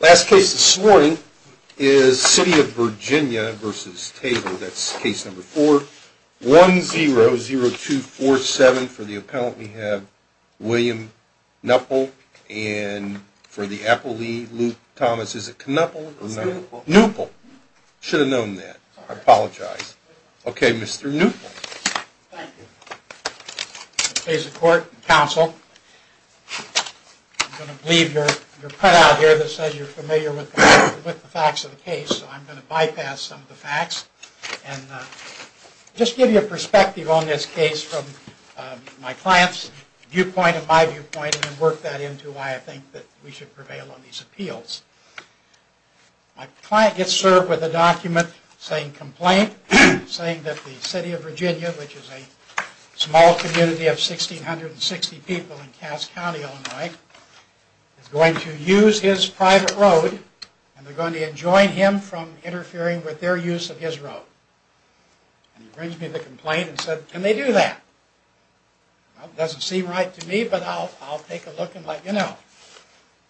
Last case this morning is City of Virginia v. Taylor. That's case number 4-100247. For the appellant we have William Knuppel and for the appellee, Luke Thomas. Is it Knuppel or Knuppel? Knuppel. Should have known that. I apologize. Okay, Mr. Knuppel. Thank you. I'm going to please the court and counsel. I'm going to leave your cutout here that says you're familiar with the facts of the case, so I'm going to bypass some of the facts and just give you a perspective on this case from my client's viewpoint and my viewpoint and work that into why I think that we should prevail on these appeals. My client gets served with a document saying complaint, saying that the City of Virginia, which is a small community of 1,660 people in Cass County, Illinois, is going to use his private road and they're going to enjoin him from interfering with their use of his road. And he brings me the complaint and said, can they do that? Well, it doesn't seem right to me, but I'll take a look and let you know.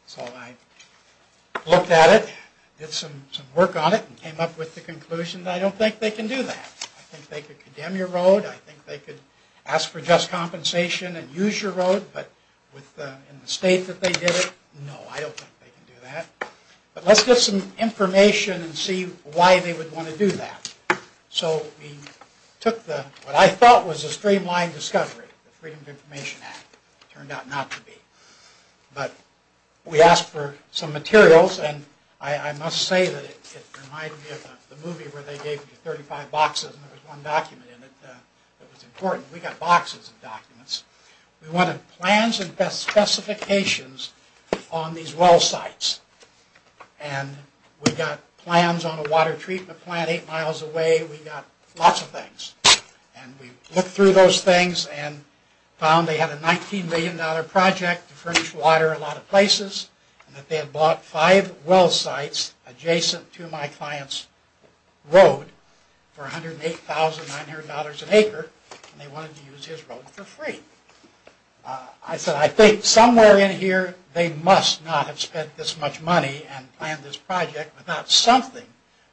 So I looked at it, did some work on it, and came up with the conclusion that I don't think they can do that. I think they could condemn your road, I think they could ask for just compensation and use your road, but in the state that they did it, no, I don't think they can do that. But let's get some information and see why they would want to do that. So we took what I thought was a streamlined discovery, the Freedom of Information Act. It turned out not to be. But we asked for some materials, and I must say that it reminded me of the movie where they gave you 35 boxes and there was one document in it that was important. We got boxes of documents. We wanted plans and specifications on these well sites. And we got plans on a water treatment plant eight miles away, we got lots of things. And we looked through those things and found they had a $19 million project to furnish water in a lot of places, and that they had bought five well sites adjacent to my client's road for $108,900 an acre, and they wanted to use his road for free. I said I think somewhere in here they must not have spent this much money and planned this project without something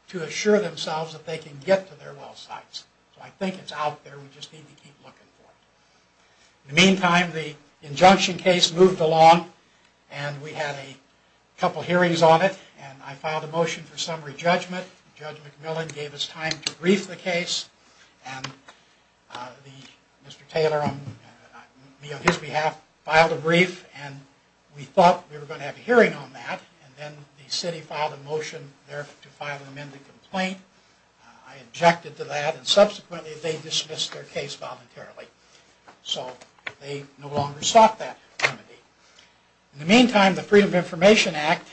to assure themselves that they can get to their well sites. So I think it's out there. We just need to keep looking for it. In the meantime, the injunction case moved along, and we had a couple hearings on it, and I filed a motion for summary judgment. Judge McMillan gave us time to brief the case, and Mr. Taylor, me on his behalf, filed a brief, and we thought we were going to have a hearing on that. And then the city filed a motion there to file an amended complaint. I objected to that, and subsequently they dismissed their case voluntarily. So they no longer sought that remedy. In the meantime, the Freedom of Information Act,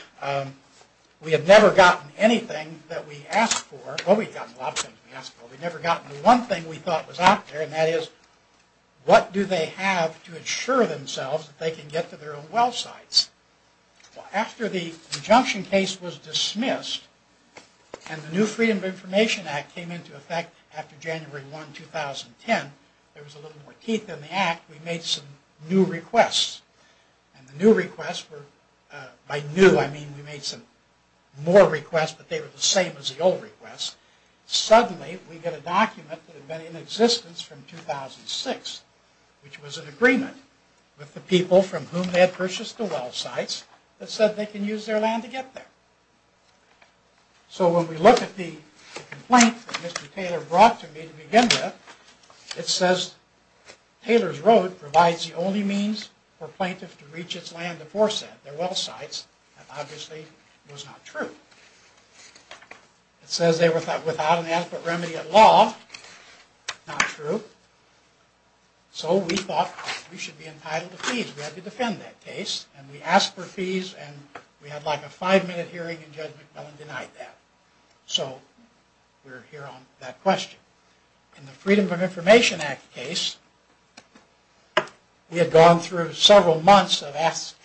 we had never gotten anything that we asked for. Well, we had gotten a lot of things we asked for. We had never gotten the one thing we thought was out there, and that is what do they have to assure themselves that they can get to their own well sites? Well, after the injunction case was dismissed, and the new Freedom of Information Act came into effect after January 1, 2010, there was a little more teeth in the act, we made some new requests. And the new requests were, by new I mean we made some more requests, but they were the same as the old requests. Suddenly, we get a document that had been in existence from 2006, which was an agreement with the people from whom they had purchased the well sites that said they can use their land to get there. So when we look at the complaint that Mr. Taylor brought to me to begin with, it says, Taylor's Road provides the only means for plaintiffs to reach its land to force their well sites. That obviously was not true. It says they were without an adequate remedy at law. Not true. So we thought we should be entitled to fees. We had to defend that case, and we asked for fees, and we had like a five-minute hearing, and Judge McMillan denied that. So we're here on that question. In the Freedom of Information Act case, we had gone through several months of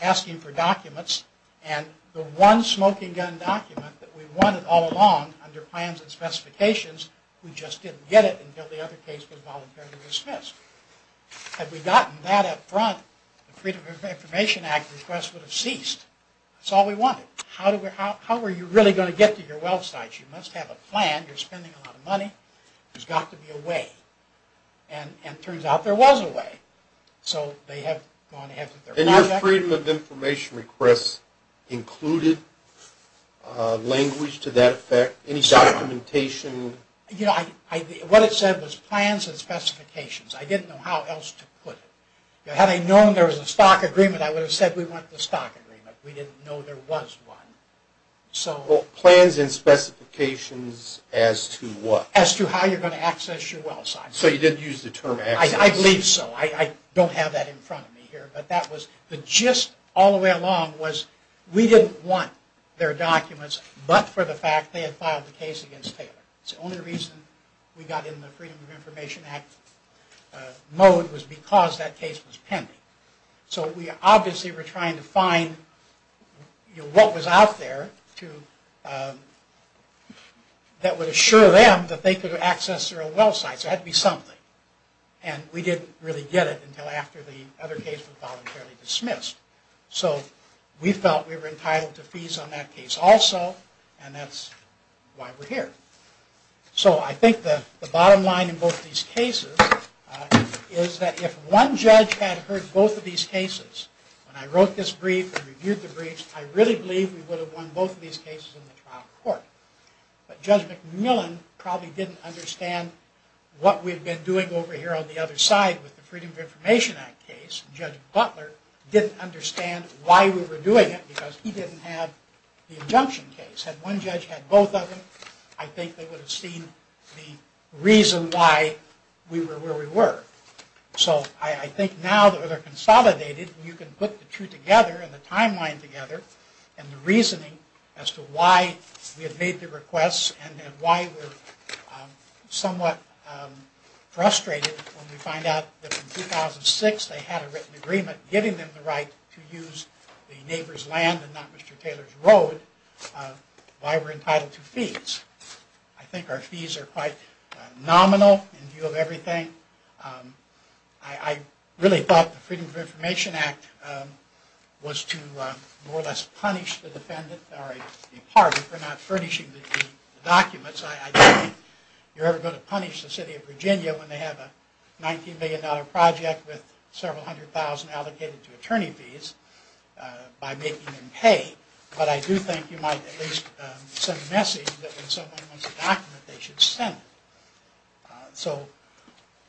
asking for documents, and the one smoking gun document that we wanted all along, under plans and specifications, we just didn't get it until the other case was voluntarily dismissed. Had we gotten that up front, the Freedom of Information Act request would have ceased. That's all we wanted. How were you really going to get to your well sites? You must have a plan. You're spending a lot of money. There's got to be a way. And it turns out there was a way. So they have gone ahead with their project. The Freedom of Information request included language to that effect? Any documentation? What it said was plans and specifications. I didn't know how else to put it. Had I known there was a stock agreement, I would have said we want the stock agreement. We didn't know there was one. Plans and specifications as to what? As to how you're going to access your well sites. So you didn't use the term access. I believe so. I don't have that in front of me here. But the gist all the way along was we didn't want their documents, but for the fact they had filed the case against Taylor. The only reason we got in the Freedom of Information Act mode was because that case was pending. So we obviously were trying to find what was out there that would assure them that they could access their own well sites. There had to be something. And we didn't really get it until after the other case was voluntarily dismissed. So we felt we were entitled to fees on that case also, and that's why we're here. So I think the bottom line in both of these cases is that if one judge had heard both of these cases, when I wrote this brief and reviewed the briefs, I really believe we would have won both of these cases in the trial court. But Judge McMillan probably didn't understand what we had been doing over here on the other side with the Freedom of Information Act case. Judge Butler didn't understand why we were doing it because he didn't have the injunction case. Had one judge had both of them, I think they would have seen the reason why we were where we were. So I think now that they're consolidated, you can put the two together and the timeline together and the reasoning as to why we have made the requests and why we're somewhat frustrated when we find out that in 2006 they had a written agreement giving them the right to use the neighbor's land and not Mr. Taylor's road, why we're entitled to fees. I think our fees are quite nominal in view of everything. I really thought the Freedom of Information Act was to more or less punish the department for not furnishing the documents. I don't think you're ever going to punish the city of Virginia when they have a $19 million project with several hundred thousand allocated to attorney fees by making them pay. But I do think you might at least send a message that when someone wants a document, they should send it. So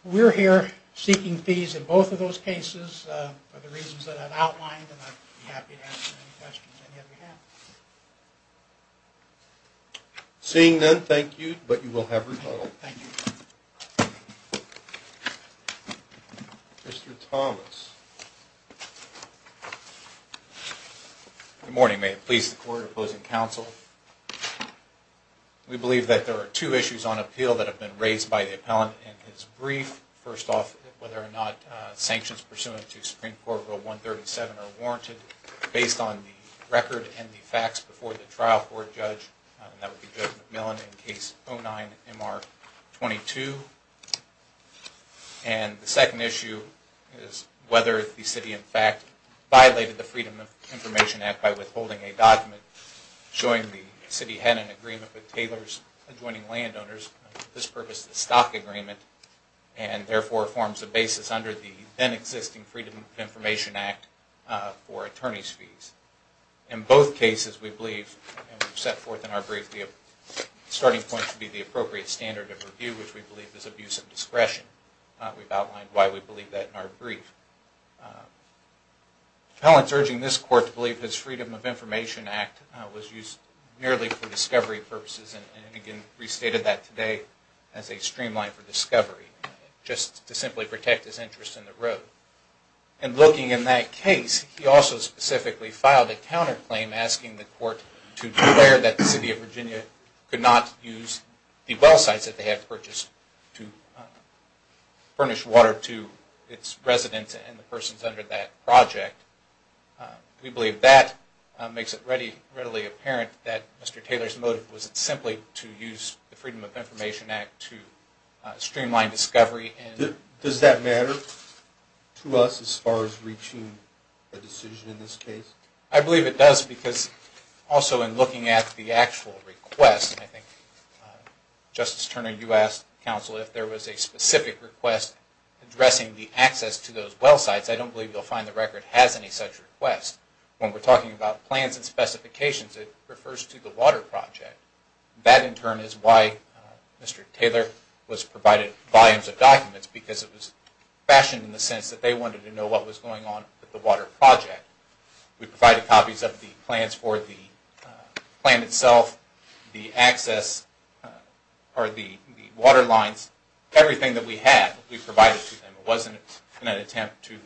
we're here seeking fees in both of those cases for the reasons that I've outlined and I'd be happy to answer any questions that you have. Seeing none, thank you, but you will have rebuttal. Thank you. Mr. Thomas. Good morning, may it please the court opposing counsel. We believe that there are two issues on appeal that have been raised by the appellant in his brief. First off, whether or not sanctions pursuant to Supreme Court Rule 137 are warranted based on the record and the facts before the trial for a judge, and that would be Judge McMillan in Case 09-MR22. And the second issue is whether the city in fact violated the Freedom of Information Act by withholding a document showing the city had an agreement with Taylor's adjoining landowners for this purpose, the stock agreement, and therefore forms the basis under the then existing Freedom of Information Act for attorney's fees. In both cases, we believe, and we've set forth in our brief, the starting point to be the appropriate standard of review, which we believe is abuse of discretion. We've outlined why we believe that in our brief. The appellant's urging this court to believe his Freedom of Information Act was used merely for discovery purposes, and again, restated that today as a streamline for discovery, just to simply protect his interest in the road. And looking in that case, he also specifically filed a counterclaim asking the court to declare that the city of Virginia could not use the well sites that they had purchased to furnish water to its residents and the persons under that project. We believe that makes it readily apparent that Mr. Taylor's motive was simply to use the Freedom of Information Act to streamline discovery and... Does that matter to us as far as reaching a decision in this case? I believe it does because also in looking at the actual request, and I think, Justice Turner, you asked counsel if there was a specific request addressing the access to those well sites. I don't believe you'll find the record has any such request. When we're talking about plans and specifications, it refers to the water project. That, in turn, is why Mr. Taylor was provided volumes of documents, because it was fashioned in the sense that they wanted to know what was going on with the water project. We provided copies of the plans for the plan itself, the access, or the water lines, everything that we had we provided to them. It wasn't an attempt to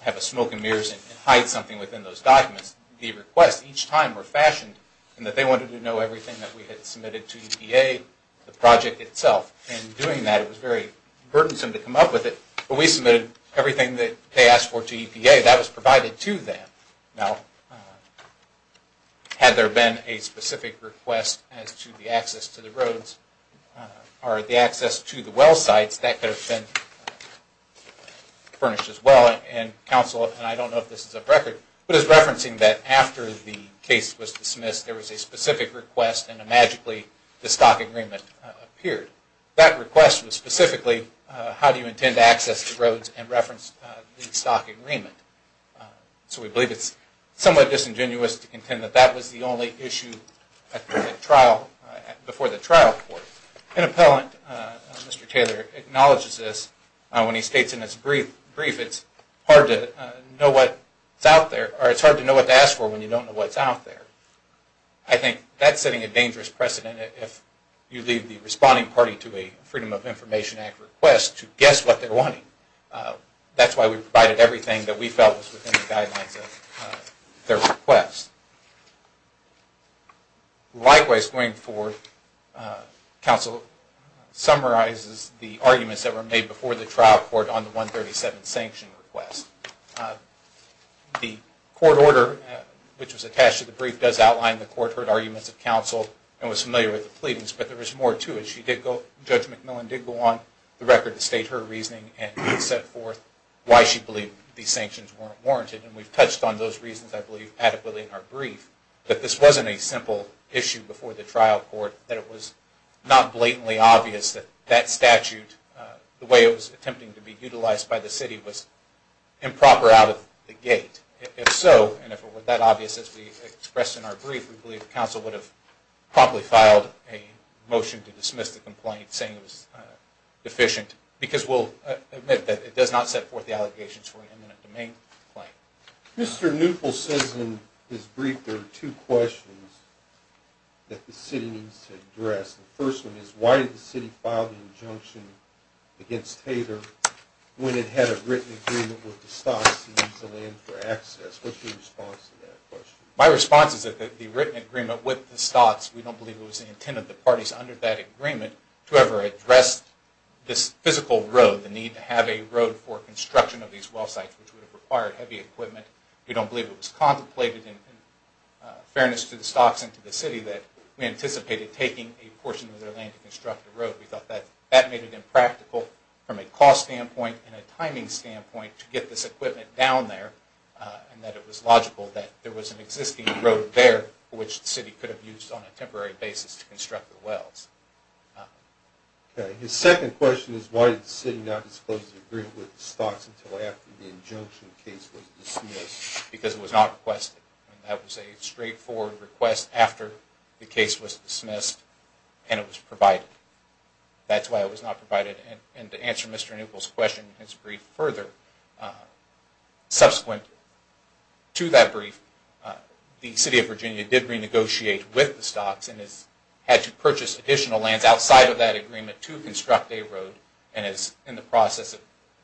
have a smoke and mirrors and hide something within those documents. The requests each time were fashioned in that they wanted to know everything that we had submitted to EPA, the project itself, and in doing that it was very burdensome to come up with it. When we submitted everything that they asked for to EPA, that was provided to them. Now, had there been a specific request as to the access to the roads or the access to the well sites, that could have been furnished as well, and counsel, and I don't know if this is a record, but it's referencing that after the case was dismissed there was a specific request and magically the stock agreement appeared. But that request was specifically how do you intend to access the roads and reference the stock agreement. So we believe it's somewhat disingenuous to contend that that was the only issue before the trial court. An appellant, Mr. Taylor, acknowledges this when he states in his brief it's hard to know what's out there, or it's hard to know what to ask for when you don't know what's out there. I think that's setting a dangerous precedent if you leave the responding party to a Freedom of Information Act request to guess what they're wanting. That's why we provided everything that we felt was within the guidelines of their request. Likewise, going forward, counsel summarizes the arguments that were made before the trial court on the 137 sanction request. The court order, which was attached to the brief, does outline the court heard arguments of counsel and was familiar with the pleadings. But there was more to it. Judge McMillan did go on the record to state her reasoning and set forth why she believed these sanctions weren't warranted. And we've touched on those reasons, I believe, adequately in our brief. But this wasn't a simple issue before the trial court that it was not blatantly obvious that that statute, the way it was attempting to be utilized by the city, was improper out of the gate. If so, and if it were that obvious as we expressed in our brief, we believe counsel would have promptly filed a motion to dismiss the complaint saying it was deficient. Because we'll admit that it does not set forth the allegations for an imminent domain claim. Mr. Newpol says in his brief there are two questions that the city needs to address. The first one is why did the city file the injunction against Tater when it had a written agreement with the stocks to use the land for access? What's your response to that question? My response is that the written agreement with the stocks, we don't believe it was the intent of the parties under that agreement to ever address this physical road, the need to have a road for construction of these well sites, which would have required heavy equipment. We don't believe it was contemplated in fairness to the stocks and to the city that we anticipated taking a portion of their land to construct a road. We thought that made it impractical from a cost standpoint and a timing standpoint to get this equipment down there and that it was logical that there was an existing road there which the city could have used on a temporary basis to construct the wells. His second question is why did the city not disclose the agreement with the stocks until after the injunction case was dismissed? Because it was not requested. That was a straightforward request after the case was dismissed and it was provided. That's why it was not provided. And to answer Mr. Neuquel's question in his brief further, subsequent to that brief, the city of Virginia did renegotiate with the stocks and has had to purchase additional lands outside of that agreement to construct a road and is in the process of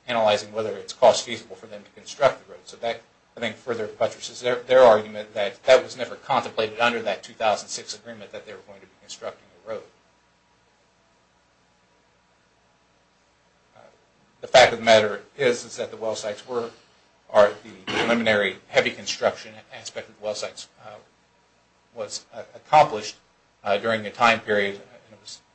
analyzing whether it's cost feasible for them to construct the road. So that I think further buttresses their argument that that was never contemplated under that 2006 agreement that they were going to be constructing a road. The fact of the matter is that the well sites were, or the preliminary heavy construction aspect of the well sites was accomplished during a time period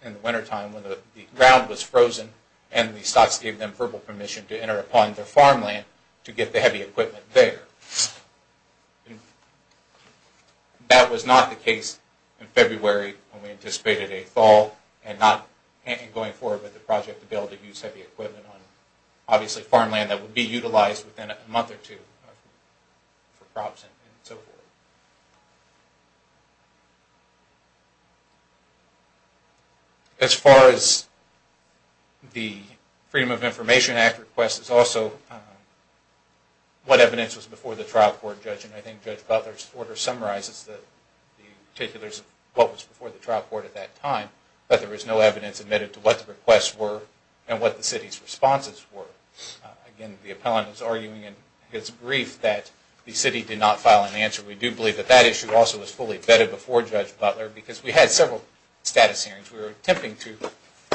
in the wintertime when the ground was frozen and the stocks gave them verbal permission to enter upon their farmland to get the heavy equipment there. That was not the case in February when we anticipated a fall and not going forward with the project to be able to use heavy equipment on obviously farmland that would be utilized within a month or two for crops and so forth. As far as the Freedom of Information Act request is also what evidence was before the trial court and I think Judge Butler's order summarizes the particulars of what was before the trial court at that time, but there was no evidence admitted to what the requests were and what the city's responses were. Again, the appellant is arguing in his brief that the city did not file an answer. We do believe that that issue also was fully vetted before Judge Butler because we had several status hearings. We were attempting to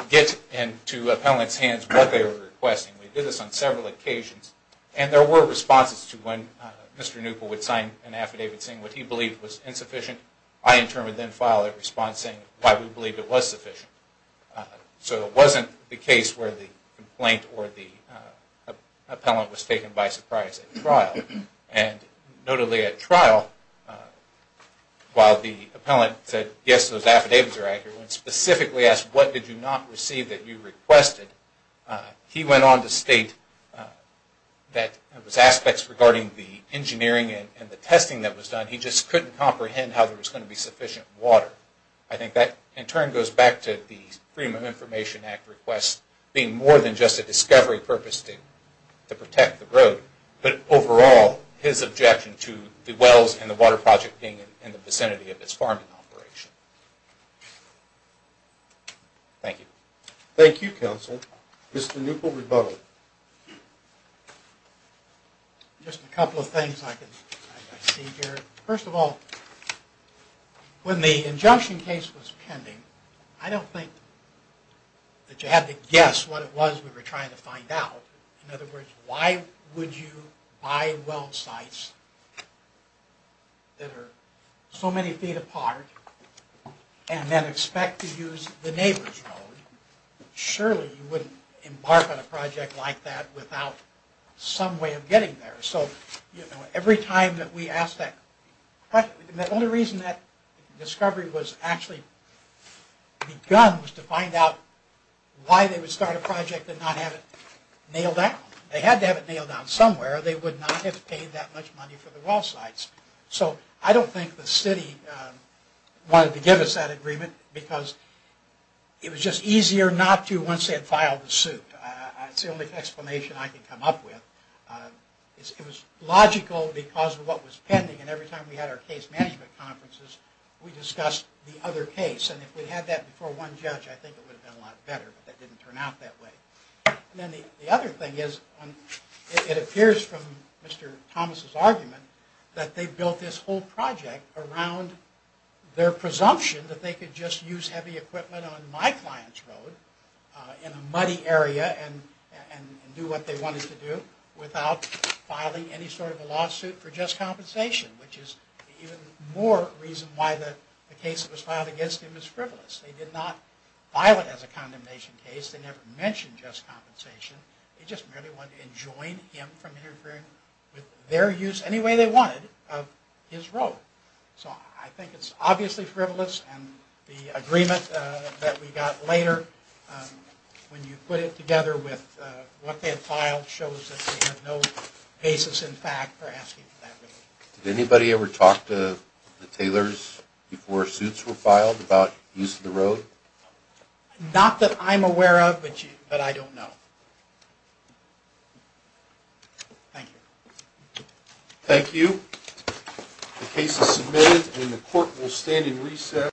get into appellants' hands what they were requesting. We did this on several occasions and there were responses to when Mr. Newpol would sign an affidavit saying what he believed was insufficient. I in turn would then file a response saying why we believed it was sufficient. So it wasn't the case where the complaint or the appellant was taken by surprise at trial. Notably at trial, while the appellant said yes, those affidavits are accurate, when specifically asked what did you not receive that you requested, he went on to state that it was aspects regarding the engineering and the testing that was done. He just couldn't comprehend how there was going to be sufficient water. I think that in turn goes back to the Freedom of Information Act request being more than just a discovery purpose to protect the road, but overall his objection to the wells and the water project being in the vicinity of its farming operation. Thank you. Thank you, counsel. Mr. Newpol, rebuttal. Just a couple of things I can see here. First of all, when the injunction case was pending, I don't think that you had to guess what it was we were trying to find out. In other words, why would you buy well sites that are so many feet apart and then expect to use the neighbor's road? Surely you wouldn't embark on a project like that without some way of getting there. So every time that we asked that question, the only reason that discovery was actually begun was to find out why they would start a project and not have it nailed down. They had to have it nailed down somewhere, or they would not have paid that much money for the well sites. So I don't think the city wanted to give us that agreement because it was just easier not to once they had filed the suit. That's the only explanation I can come up with. It was logical because of what was pending, and every time we had our case management conferences, we discussed the other case. If we had that before one judge, I think it would have been a lot better, but that didn't turn out that way. The other thing is, it appears from Mr. Thomas' argument, that they built this whole project around their presumption that they could just use heavy equipment on my client's road in a muddy area and do what they wanted to do without filing any sort of a lawsuit for just compensation, which is the even more reason why the case that was filed against him is frivolous. They did not file it as a condemnation case. They never mentioned just compensation. They just merely wanted to enjoin him from interfering with their use, any way they wanted, of his road. So I think it's obviously frivolous, and the agreement that we got later, when you put it together with what they had filed, shows that they have no basis in fact for asking for that relief. Did anybody ever talk to the tailors before suits were filed about use of the road? Not that I'm aware of, but I don't know. Thank you. Thank you. The case is submitted, and the court will stand in recess.